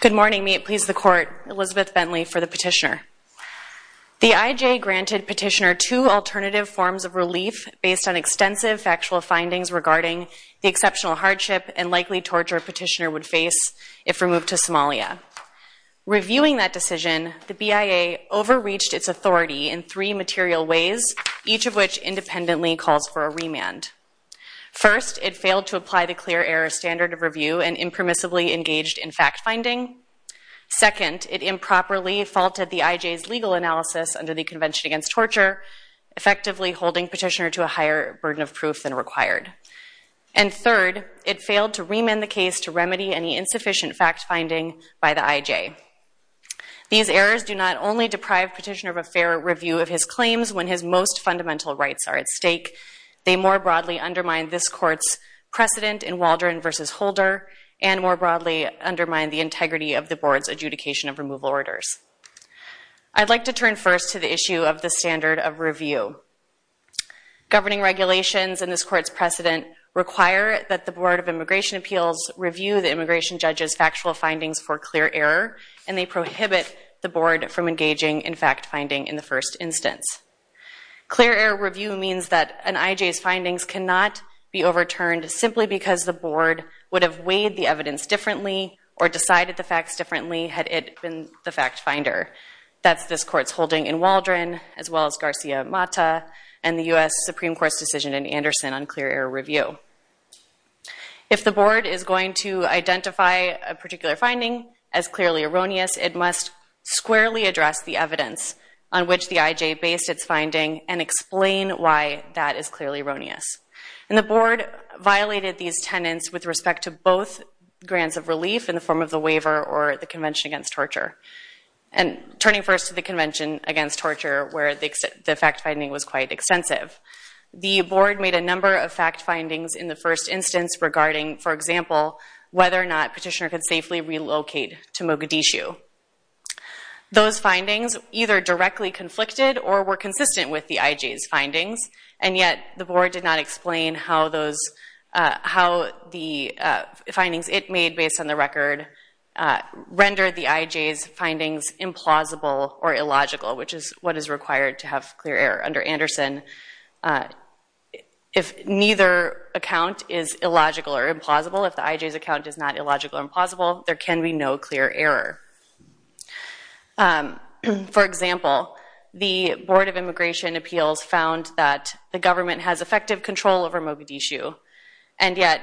Good morning. May it please the Court, Elizabeth Bentley for the petitioner. The IJ granted petitioner two alternative forms of relief based on extensive factual findings regarding the exceptional hardship and likely torture a petitioner would face if removed to Somalia. Reviewing that decision, the BIA overreached its authority in three material ways, each of which independently calls for a remand. First, it failed to apply the clear error standard of review and impermissibly engaged in fact-finding. Second, it improperly faulted the IJ's legal analysis under the Convention Against Torture, effectively holding petitioner to a higher burden of proof than required. And third, it failed to remand the case to remedy any insufficient fact-finding by the IJ. These errors do not only deprive petitioner of a fair review of his claims when his most fundamental rights are at stake, they more broadly undermine this Court's precedent in Waldron v. Holder and more broadly undermine the integrity of the Board's adjudication of removal orders. I'd like to turn first to the issue of the standard of review. Governing regulations and this Court's precedent require that the Board of Immigration Appeals review the immigration judge's factual findings for clear error, and they prohibit the Board from engaging in fact-finding in the first instance. Clear error review means that an IJ's findings cannot be overturned simply because the Board would have weighed the evidence differently or decided the facts differently had it been the fact-finder. That's this Court's holding in Waldron, as well as Garcia-Mata and the U.S. Supreme Court's decision in Anderson on clear error review. If the Board is going to identify a particular finding as clearly erroneous, it must squarely address the evidence on which the IJ based its finding and explain why that is clearly erroneous. And the Board violated these tenets with respect to both grants of relief in the form of the waiver or the Convention Against Torture. And turning first to the Convention Against Torture, where the fact-finding was quite extensive. The Board made a number of fact-findings in the first instance regarding, for example, whether or not Petitioner could safely relocate to Mogadishu. Those findings either directly conflicted or were consistent with the IJ's findings, and yet the Board did not explain how those, how the findings it made based on the record rendered the IJ's findings implausible or illogical, which is what is required to have clear error under Anderson. If neither account is illogical or implausible, if the IJ's account is not illogical or implausible, there can be no clear error. For example, the Board of Immigration Appeals found that the government has effective control over Mogadishu and yet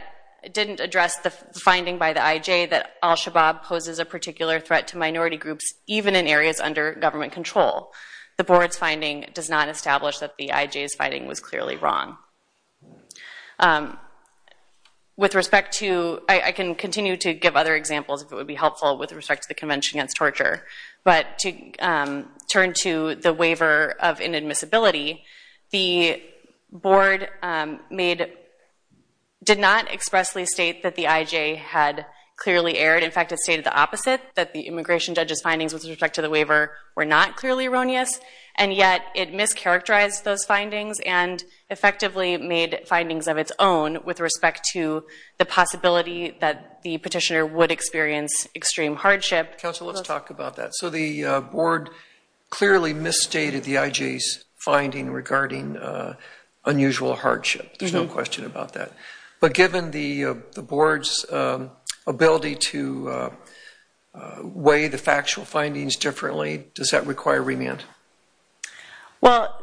didn't address the finding by the IJ that al-Shabaab poses a particular threat to minority groups, even in areas under government control. The Board's finding does not establish that the IJ's finding was clearly wrong. With respect to, I can continue to give other examples if it would be helpful with respect to the Convention Against Torture, but to turn to the waiver of inadmissibility, the Board made, did not expressly state that the IJ had clearly erred. In fact, it stated the opposite, that the immigration judge's findings with respect to the waiver were not clearly erroneous, and yet it mischaracterized those findings and effectively made findings of its own with respect to the possibility that the petitioner would experience extreme hardship. Counsel, let's talk about that. So the Board clearly misstated the IJ's finding regarding unusual hardship. There's no question about that. But given the Board's ability to weigh the factual findings differently, does that require remand? Well,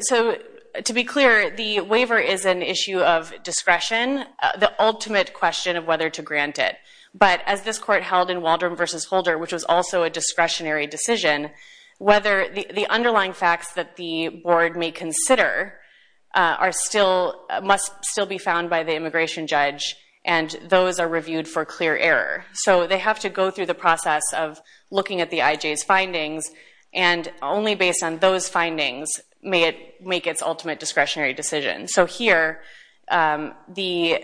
so to be clear, the waiver is an issue of discretion, the ultimate question of whether to grant it. But as this court held in Waldron v. Holder, which was also a discretionary decision, whether the underlying facts that the Board may consider must still be found by the immigration judge, and those are reviewed for clear error. So they have to go through the process of looking at the IJ's findings, and only based on those findings may it make its ultimate discretionary decision. So here, the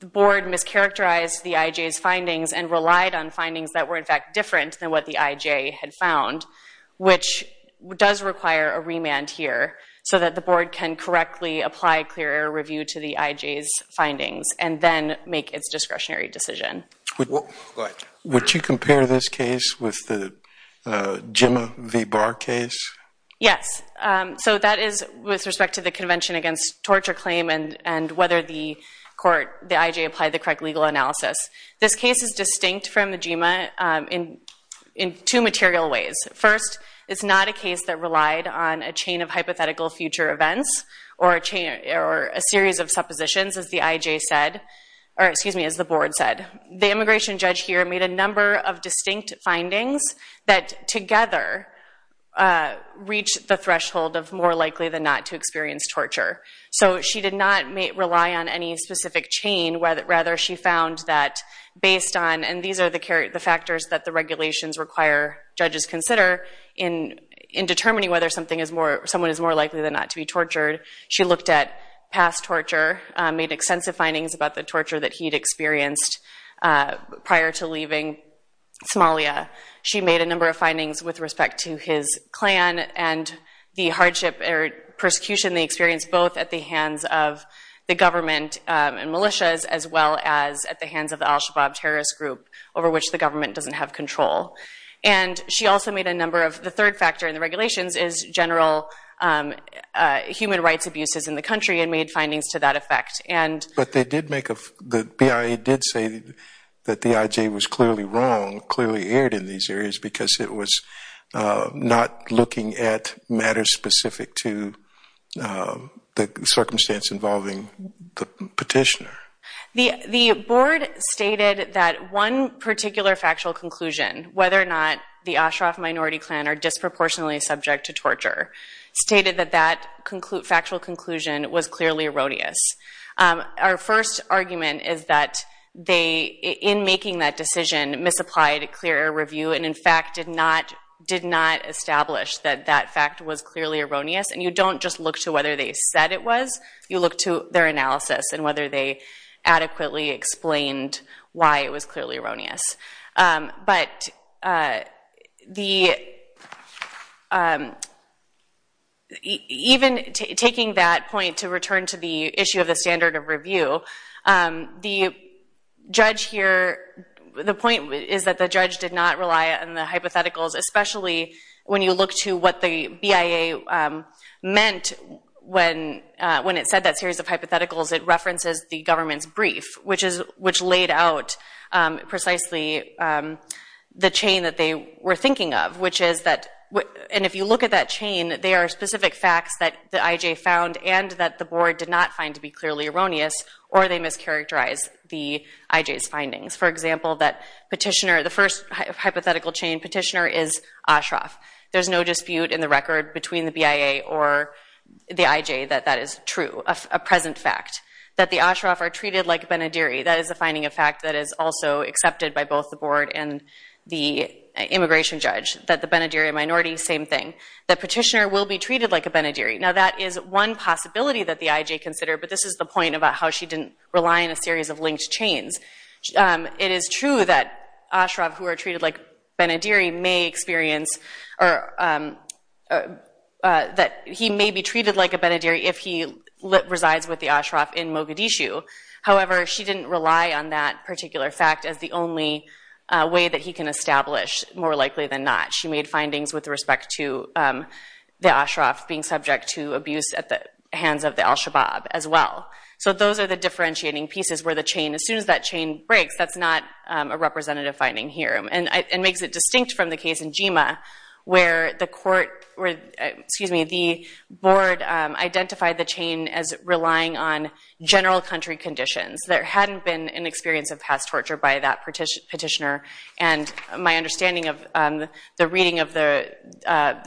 Board mischaracterized the IJ's findings and relied on findings that were in fact different than what the IJ had found, which does require a remand here so that the Board can correctly apply clear error review to the IJ's findings and then make its discretionary decision. Would you compare this case with the GEMMA v. Barr case? Yes. So that is with respect to the Convention Against Torture Claim and whether the court, the IJ, applied the correct legal analysis. This case is distinct from the GEMMA in two material ways. First, it's not a case that relied on a chain of hypothetical future events or a series of suppositions, as the IJ said, or excuse me, as the Board said. The immigration judge here made a number of distinct findings that together reached the threshold of more than the IJ. She didn't rely on any specific chain. Rather, she found that based on, and these are the factors that the regulations require judges consider in determining whether someone is more likely than not to be tortured, she looked at past torture, made extensive findings about the torture that he'd experienced prior to leaving Somalia. She made a number of findings with respect to his clan and the hardship or persecution they experienced both at the hands of the government and militias as well as at the hands of the al-Shabaab terrorist group over which the government doesn't have control. And she also made a number of, the third factor in the regulations is general human rights abuses in the country and made findings to that effect. But they did make a, the BIA did say that the IJ was clearly wrong, clearly erred in these areas because it was not looking at matters specific to the circumstance involving the petitioner. The Board stated that one particular factual conclusion, whether or not the Ashraf minority clan are disproportionately subject to torture, stated that that factual conclusion was clearly erroneous. Our first argument is that they, in making that decision, misapplied a clear review and in fact did not establish that that fact was clearly erroneous. And you don't just look to whether they said it was, you look to their analysis and whether they adequately explained why it was clearly erroneous. But the, even taking that point to return to the issue of the standard of review, the judge here, the point is that the judge did not rely on the hypotheticals, especially when you look to what the BIA meant when it said that series of hypotheticals, it references the government's brief, which laid out precisely the chain that they were thinking of, which is that, and if you look at that chain, they are specific facts that the IJ found and that the Board did not find to be clearly erroneous or they mischaracterized the IJ's findings. For example, that petitioner, the first hypothetical chain petitioner is Ashraf. There's no dispute in the record between the BIA or the IJ that that is true, a present fact. That the Ashraf are treated like a Benadiri, that is a finding of fact that is also accepted by both the Board and the immigration judge. That the Benadiri minority, same thing. That petitioner will be treated like a Benadiri. Now that is one possibility that the IJ considered, but this is the point about how she didn't rely on a series of linked chains. It is true that Ashraf who are treated like Benadiri may experience, that he may be treated like a Benadiri if he resides with the Ashraf in Mogadishu. However, she didn't rely on that particular fact as the only way that he can establish, more likely than not. She made findings with respect to the Ashraf being subject to abuse at the hands of the Al-Shabaab as well. So those are the differentiating pieces where the chain, as soon as that chain breaks, that's not a representative finding here. And makes it distinct from the case in Jima where the court, excuse me, the Board identified the chain as relying on general country conditions. There hadn't been an experience of past torture by that petitioner. And my understanding of the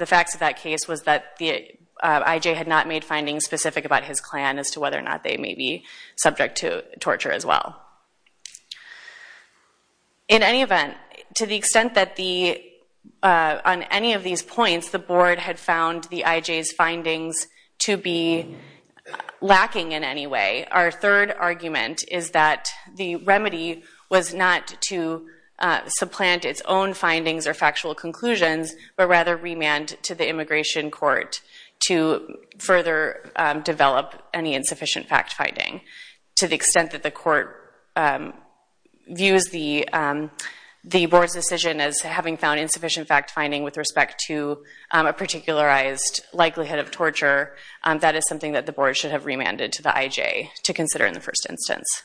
facts of that case was that the IJ had not made findings specific about his clan as to whether or not they may be subject to torture as well. In any event, to the extent that the, on any of these points, the Board had found the IJ's findings to be lacking in any way. Our third argument is that the remedy was not to supplant its own but rather remand to the Immigration Court to further develop any insufficient fact-finding. To the extent that the court views the Board's decision as having found insufficient fact-finding with respect to a particularized likelihood of torture, that is something that the Board should have remanded to the IJ to consider in the first instance.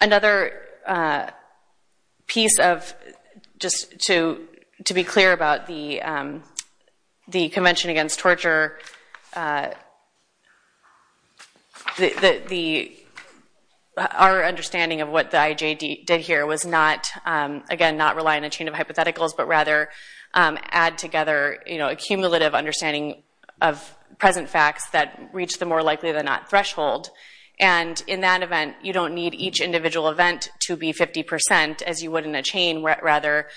Another piece of, just to be clear about the Convention Against Torture, our understanding of what the IJ did here was not, again, not rely on a chain of hypotheticals but rather add together a cumulative understanding of present facts that reach the more likely than not threshold. And in that event, you don't need each individual event to be 50 percent as you would in a chain where rather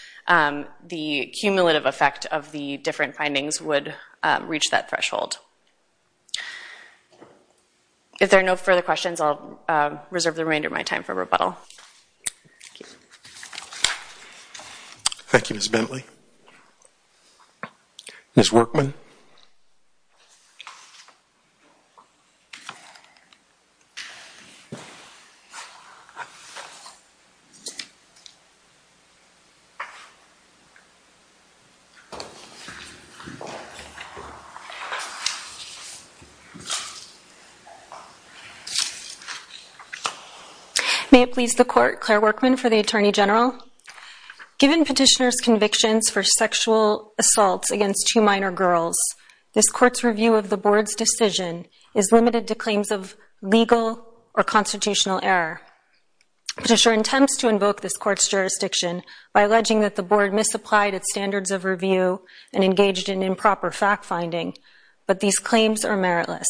the cumulative effect of the different findings would reach that threshold. If there are no further questions, I'll reserve the remainder of my time for rebuttal. Thank you, Ms. Bentley. Ms. Workman. May it please the Court, Claire Workman for the Attorney General. Given Petitioner's convictions for sexual assaults against two minor girls, this Court's review of the Board's decision is limited to claims of legal or constitutional error. Petitioner intends to invoke this Court's jurisdiction by alleging that the Board misapplied its standards of review and engaged in improper fact-finding, but these claims are meritless.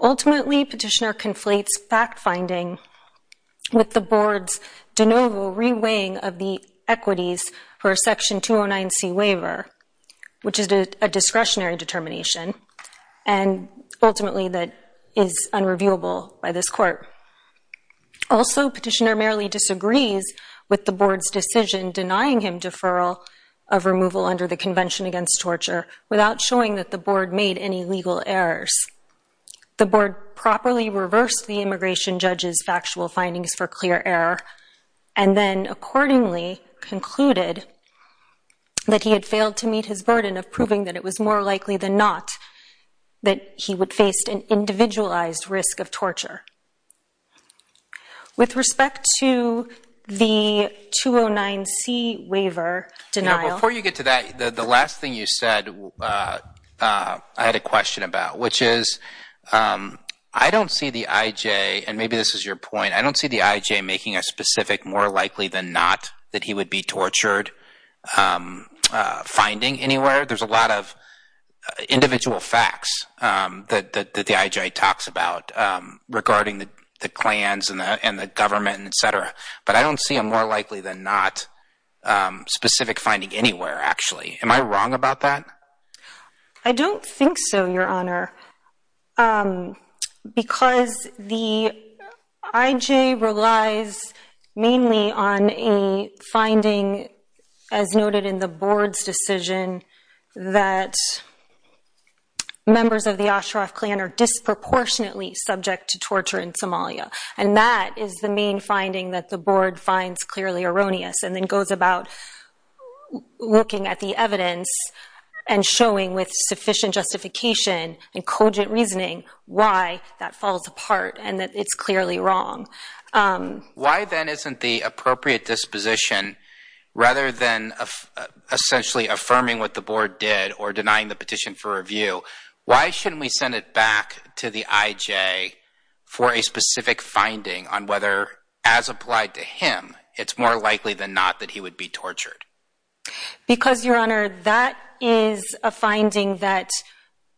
Ultimately, Petitioner conflates fact-finding with the Board's de novo reweighing of the equities for a Section 209C waiver, which is a discretionary determination and ultimately that is unreviewable by this Court. Also, Petitioner merely disagrees with the Board's decision denying him deferral of removal under the Convention Against Torture without showing that the Board made any legal errors. The Board properly reversed the immigration judge's factual findings for clear error and then accordingly concluded that he had failed to meet his burden of proving that it was more likely than not that he would face an individualized risk of torture. With respect to the 209C waiver denial... I had a question about, which is, I don't see the IJ, and maybe this is your point, I don't see the IJ making a specific more likely than not that he would be tortured finding anywhere. There's a lot of individual facts that the IJ talks about regarding the clans and the government, etc., but I don't see a more likely than not specific finding anywhere, actually. Am I wrong about that? I don't think so, Your Honor, because the IJ relies mainly on a finding, as noted in the Board's decision, that members of the Ashraf clan are disproportionately subject to torture in Somalia, and that is the main finding that the Board finds clearly erroneous and then goes about looking at the evidence and showing, with sufficient justification and cogent reasoning, why that falls apart and that it's clearly wrong. Why, then, isn't the appropriate disposition, rather than essentially affirming what the Board did or denying the petition for review, why shouldn't we send it back to the IJ for a specific finding on whether, as applied to him, it's more likely than not that he would be tortured? Because, Your Honor, that is a finding that,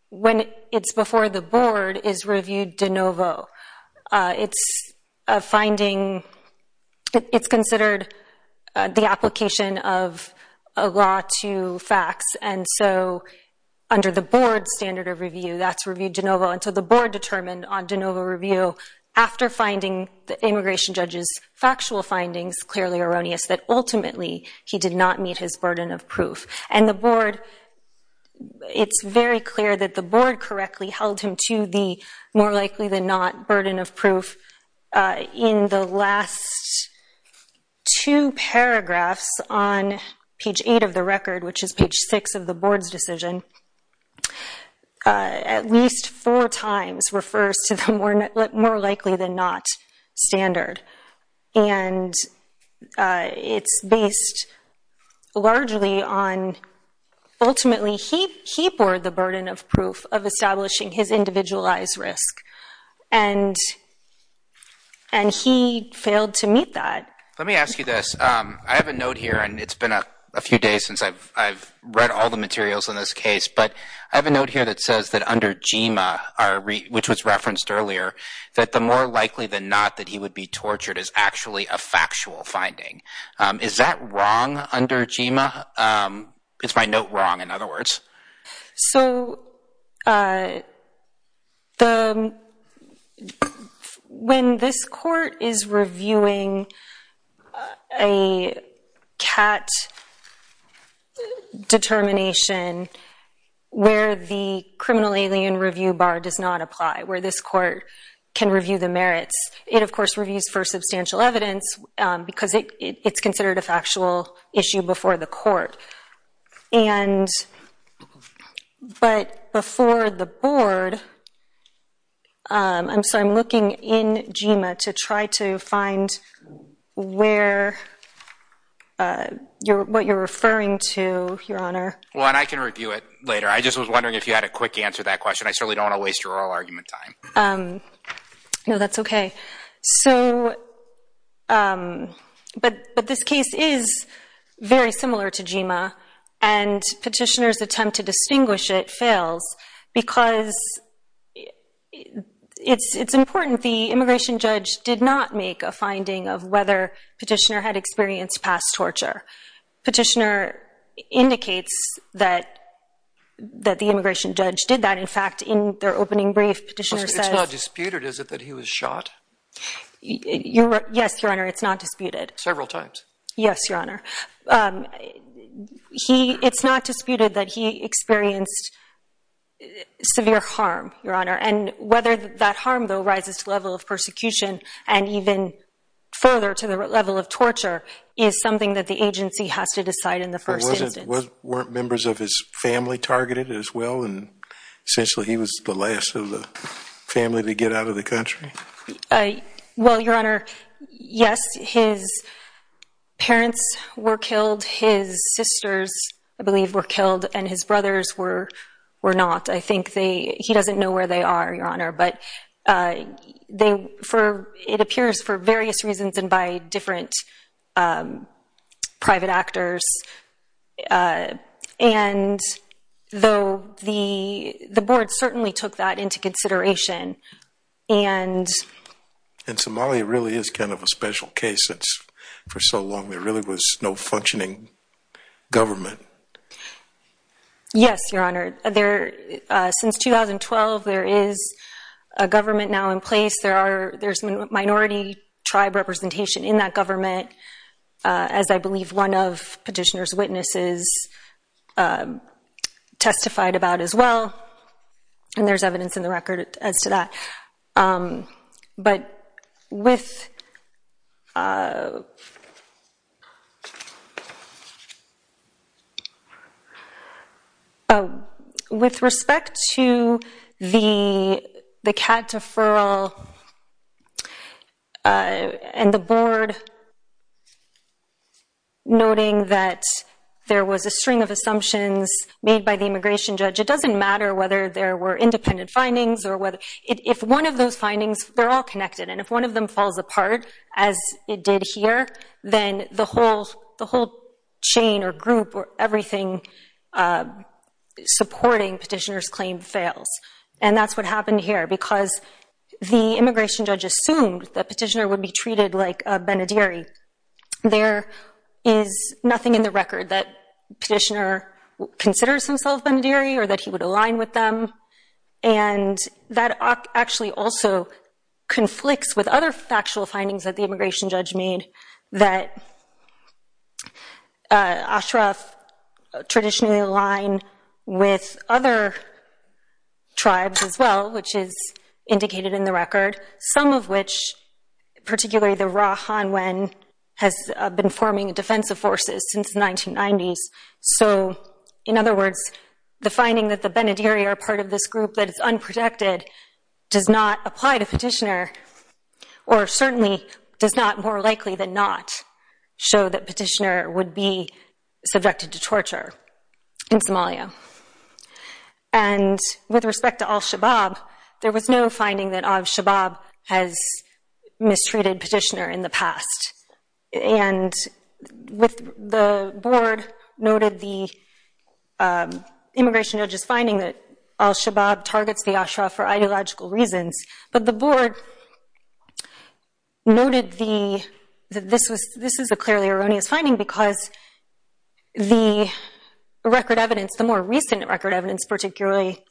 when it's before the Board, is reviewed de novo. It's a finding, it's considered the application of a law to facts, and so under the Board's standard of review, that's reviewed de novo until the Board determined on de novo review, after finding the immigration judge's factual findings clearly erroneous, that ultimately he did not meet his burden of proof. And the Board, it's very clear that the Board correctly held him to the more likely than not burden of proof in the last two paragraphs on page 8 of the record, which is page 6 of the Board's decision, at least four times refers to the more likely than not standard. And it's based largely on, ultimately, he bore the burden of proof of establishing his individualized risk, and he failed to meet that. Let me ask you this. I have a note here, and it's been a few days since I've read all the materials on this case, but I have a note here that says that under GEMA, which was referenced earlier, that the more likely than not that he would be tortured is actually a factual finding. Is that wrong under GEMA? Is my note wrong, in other words? So, when this court is reviewing a CAT determination where the criminal alien review bar does not apply, where this court can review the merits, it, of course, reviews for substantial evidence because it's considered a factual issue before the court. And, but before the Board, I'm sorry, I'm looking in GEMA to try to find where, what you're referring to, Your Honor. Well, and I can review it later. I just was wondering if you had a quick answer to that question. I certainly don't want to waste your oral argument time. No, that's okay. So, but this case is very similar to GEMA, and Petitioner's attempt to distinguish it fails because it's important the immigration judge did not make a finding of whether Petitioner had experienced past torture. Petitioner indicates that the immigration judge did that. In fact, in their opening brief, Petitioner says... It's not disputed, is it, that he was shot? Yes, Your Honor, it's not disputed. Several times. Yes, Your Honor. He, it's not disputed that he experienced severe harm, Your Honor, and whether that harm, though, rises to the level of persecution and even further to the level of torture is something that the agency has to decide in the first instance. Weren't members of his family targeted as well, and essentially he was the last of the family to get out of the country? Well, Your Honor, yes, his parents were killed, his sisters, I believe, were killed, and his brothers were not. I think they, he doesn't know where they are, Your Honor, but they, for, it appears for various reasons and by different private actors, and though the, the board certainly took that into consideration, and... And Somalia really is kind of a special case since, for so long there really was no functioning government. Yes, Your Honor, there, since 2012 there is a government now in place, there are, there's minority tribe representation in that government, as I believe one of petitioner's witnesses testified about as well, and there's evidence in the record as to that. But with... With respect to the, the CAD deferral and the board noting that there was a string of assumptions made by the immigration judge, it doesn't matter whether there were independent findings or whether, if one of those findings, they're all connected, and if one of them falls apart, as it did here, then the whole, the whole chain or group or everything supporting petitioner's claim fails. And that's what happened here, because the immigration judge assumed that petitioner would be treated like a Benadiri. There is nothing in the record that petitioner considers himself Benadiri or that he would align with them, and that actually also conflicts with other factual findings that the immigration judge made, that Ashraf traditionally aligned with other tribes as well, which is indicated in the record, some of which, particularly the Ra Hanwen, has been forming defensive forces since the 1990s. So, in other words, the finding that the Benadiri are part of this group that is unprotected does not apply to petitioner, or certainly does not, more likely than not, show that petitioner would be subjected to torture in Somalia. And with respect to al-Shabaab, there was no finding that al-Shabaab has mistreated petitioner in the past. And with, the board noted the immigration judge's finding that al-Shabaab targets the Ashraf for ideological reasons, but the board noted the, that this was, this is a clearly erroneous finding because the record evidence, the more recent record evidence, particularly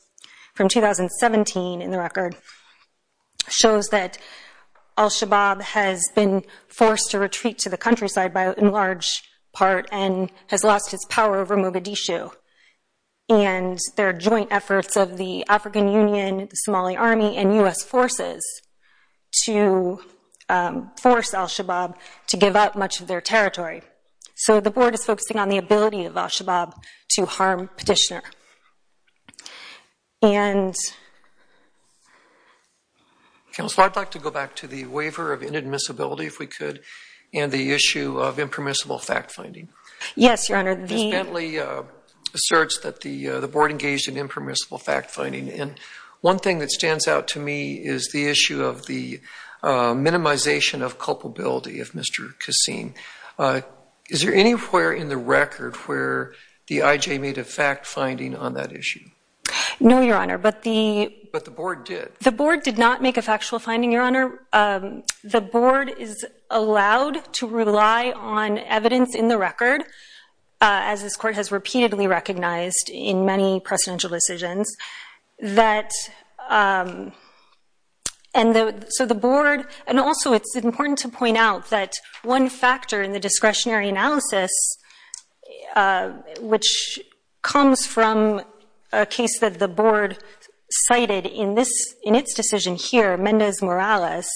from 2017 in the record, shows that al-Shabaab has been forced to retreat to the countryside by, in large part, and has lost its power over Mogadishu, and their joint efforts of the African Union, the Somali army, and U.S. forces to force al-Shabaab to give up much of their territory. So the board is focusing on the ability of al-Shabaab to harm petitioner. And... Counsel, I'd like to go back to the waiver of inadmissibility, if we could, and the issue of impermissible fact-finding. Yes, Your Honor. Ms. Bentley asserts that the board engaged in impermissible fact-finding, and one thing that stands out to me is the issue of the minimization of culpability of Mr. Kassim. Is there anywhere in the record where the IJ made a fact-finding on that issue? No, Your Honor, but the... But the board did. The board did not make a factual finding, Your Honor. The board is allowed to rely on evidence in the record, as this court has repeatedly recognized in many presidential decisions, that... So the board... And also, it's important to point out that one factor in the discretionary analysis, which comes from a case that the board cited in its decision here, Mendez-Morales,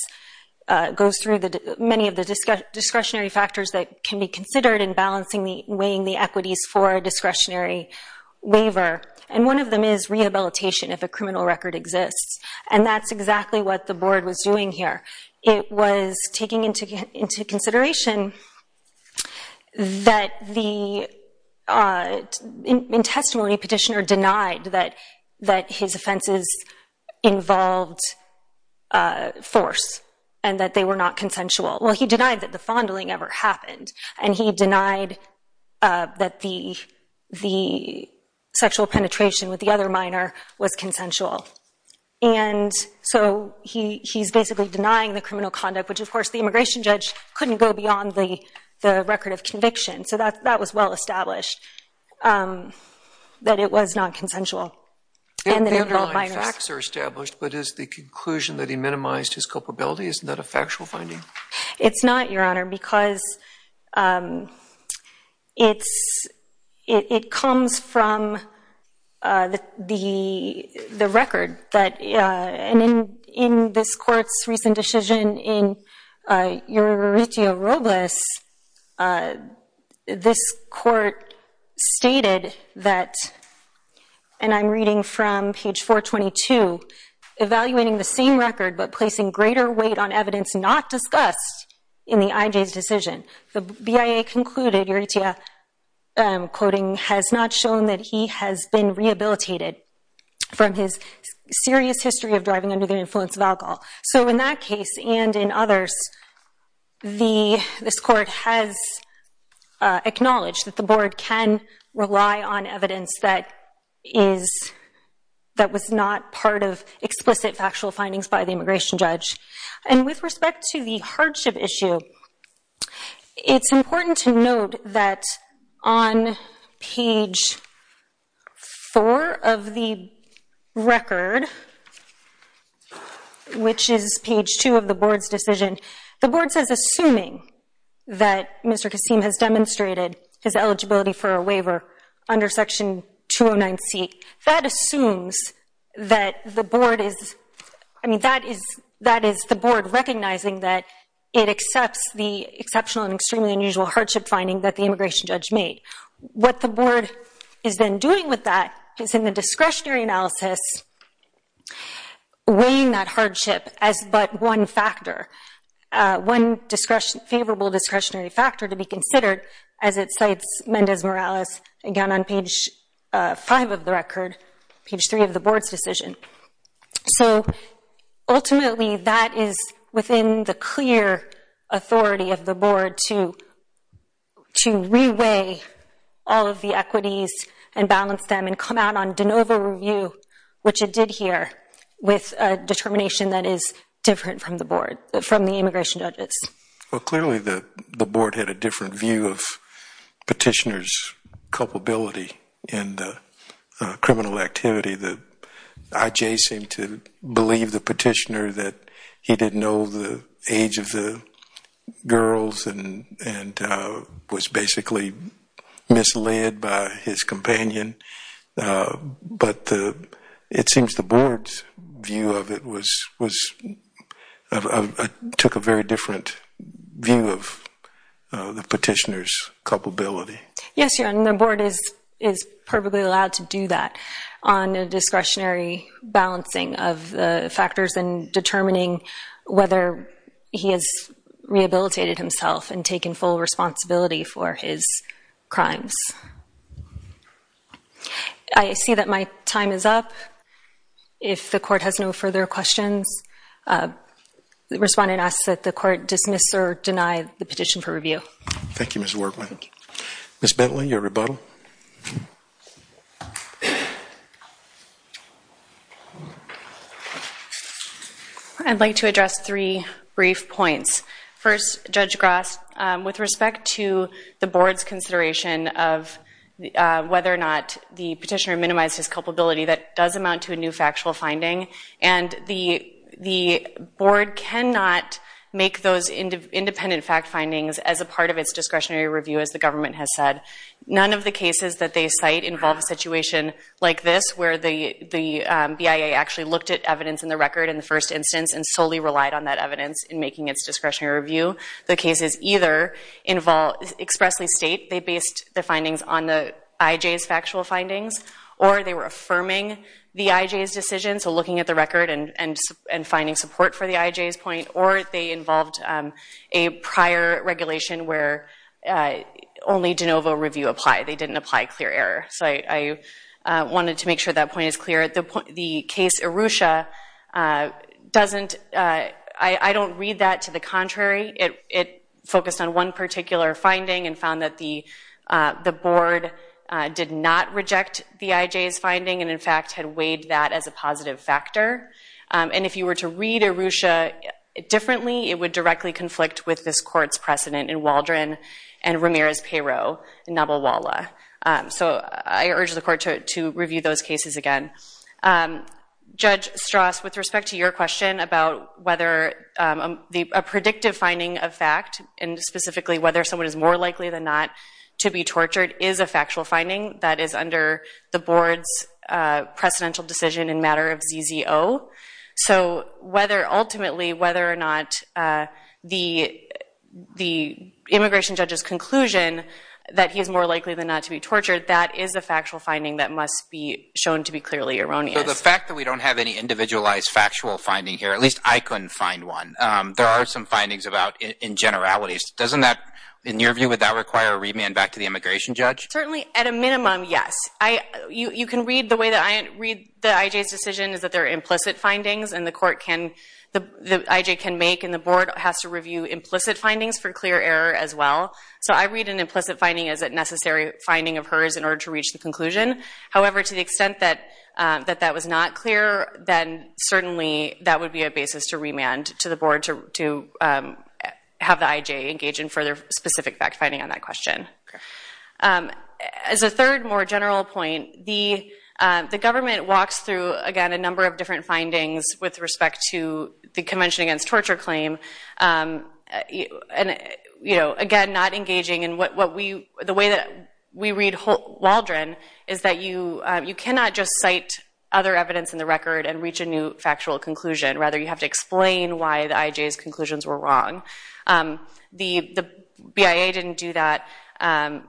goes through many of the discretionary factors that can be considered in balancing, weighing the equities for a discretionary waiver. And one of them is rehabilitation, if a criminal record exists. And that's exactly what the board was doing here. It was taking into consideration that the... In testimony, Petitioner denied that his offenses involved force and that they were not consensual. Well, he denied that the fondling ever happened, and he denied that the sexual penetration with the other minor was consensual. And so he's basically denying the criminal conduct, which, of course, the immigration judge couldn't go beyond the record of conviction. So that was well established, that it was not consensual, and that it involved minors. The underlying facts are established, but is the conclusion that he minimized his culpability, isn't that a factual finding? It's not, Your Honor, because it's... It comes from the record that... And in this court's recent decision in Euritio Robles, this court stated that... And I'm reading from page 422. Evaluating the same record, but placing greater weight on evidence not discussed in the IJ's decision. The BIA concluded, Euritio, I'm quoting, has not shown that he has been rehabilitated from his serious history of driving under the influence of alcohol. So in that case, and in others, this court has acknowledged that the board can rely on factual findings by the immigration judge. And with respect to the hardship issue, it's important to note that on page 4 of the record, which is page 2 of the board's decision, the board says, assuming that Mr. Kassim has demonstrated his eligibility for a waiver under section 209C, that assumes that the board is... I mean, that is the board recognizing that it accepts the exceptional and extremely unusual hardship finding that the immigration judge made. What the board has been doing with that is in the discretionary analysis, weighing that Mendes Morales, again on page 5 of the record, page 3 of the board's decision. So ultimately, that is within the clear authority of the board to re-weigh all of the equities and balance them and come out on de novo review, which it did here, with a determination that is different from the board, from the immigration judges. Well, clearly the board had a different view of petitioner's culpability in the criminal activity. The IJ seemed to believe the petitioner that he didn't know the age of the girls and was basically misled by his companion. But it seems the board's view of it took a very different view of the petitioner's culpability. Yes, your honor, the board is perfectly allowed to do that on a discretionary balancing of factors and determining whether he has rehabilitated himself and taken full responsibility for his crimes. I see that my time is up. If the court has no further questions, respondent asks that the court dismiss or deny the petition for review. Thank you, Ms. Workman. Ms. Bentley, your rebuttal. I'd like to address three brief points. First, Judge Gross, with respect to the board's consideration of whether or not the petitioner minimized his culpability, that does amount to a new factual finding. And the board cannot make those independent fact findings as a part of its discretionary review, as the government has said. None of the cases that they cite involve a situation like this, where the BIA actually looked at evidence in the record in the first instance and solely relied on that evidence in making its discretionary review. The cases either expressly state they based the findings on the IJ's factual findings, or they were affirming the IJ's decision, so looking at the record and finding support for the IJ's point, or they involved a prior regulation where only de novo review applied. They didn't apply clear error. So I wanted to make sure that point is clear. The case Arusha doesn't – I don't read that to the contrary. It focused on one particular finding and found that the board did not reject the IJ's finding and, in fact, had weighed that as a positive factor. And if you were to read Arusha differently, it would directly conflict with this court's precedent in Waldron and Ramirez-Payrot in Nabowala. So I urge the court to review those cases again. Judge Strauss, with respect to your question about whether a predictive finding of fact, and specifically whether someone is more likely than not to be tortured, is a factual finding that is under the board's precedential decision in matter of ZZO. So ultimately, whether or not the immigration judge's conclusion that he is more likely than not to be tortured, that is a factual finding that must be shown to be clearly erroneous. So the fact that we don't have any individualized factual finding here, at least I couldn't find one, there are some findings about in generalities. In your view, would that require a remand back to the immigration judge? Certainly, at a minimum, yes. You can read the way that I read the IJ's decision is that there are implicit findings, and the court can, the IJ can make, and the board has to review implicit findings for clear error as well. So I read an implicit finding as a necessary finding of hers in order to reach the conclusion. However, to the extent that that was not clear, then certainly that would be a basis to remand to the board to have the IJ engage in further specific fact finding on that question. As a third, more general point, the government walks through, again, a number of different findings with respect to the Convention Against Torture claim. Again, not engaging in what we, the way that we read Waldron is that you cannot just cite other evidence in the record and reach a new factual conclusion. Rather, you have to explain why the IJ's conclusions were wrong. The BIA didn't do that, and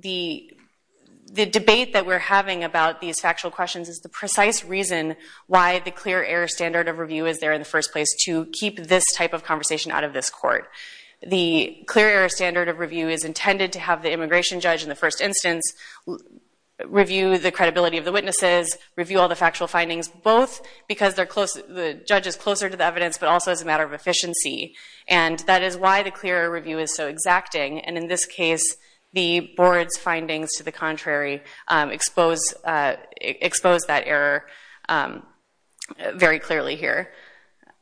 the debate that we're having about these factual questions is the precise reason why the clear error standard of review is there in the first place to keep this type of conversation out of this court. The clear error standard of review is intended to have the immigration judge in the first instance review the credibility of the witnesses, review all the factual findings, both because the judge is closer to the evidence, but also as a matter of efficiency. And that is why the clear error review is so exacting. And in this case, the board's findings to the contrary expose that error very clearly here.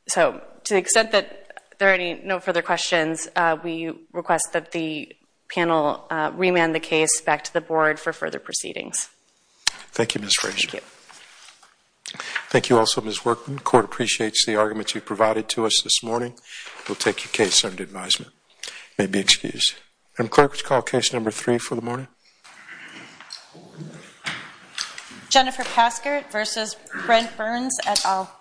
So to the extent that there are no further questions, we request that the panel remand the case back to the board for further proceedings. Thank you, Ms. Frazier. Thank you also, Ms. Workman. The court appreciates the arguments you've provided to us this morning. We'll take your case under advisement. You may be excused. Madam Clerk, would you call case number three for the morning? Jennifer Paskert versus Brent Burns et al. Thank you.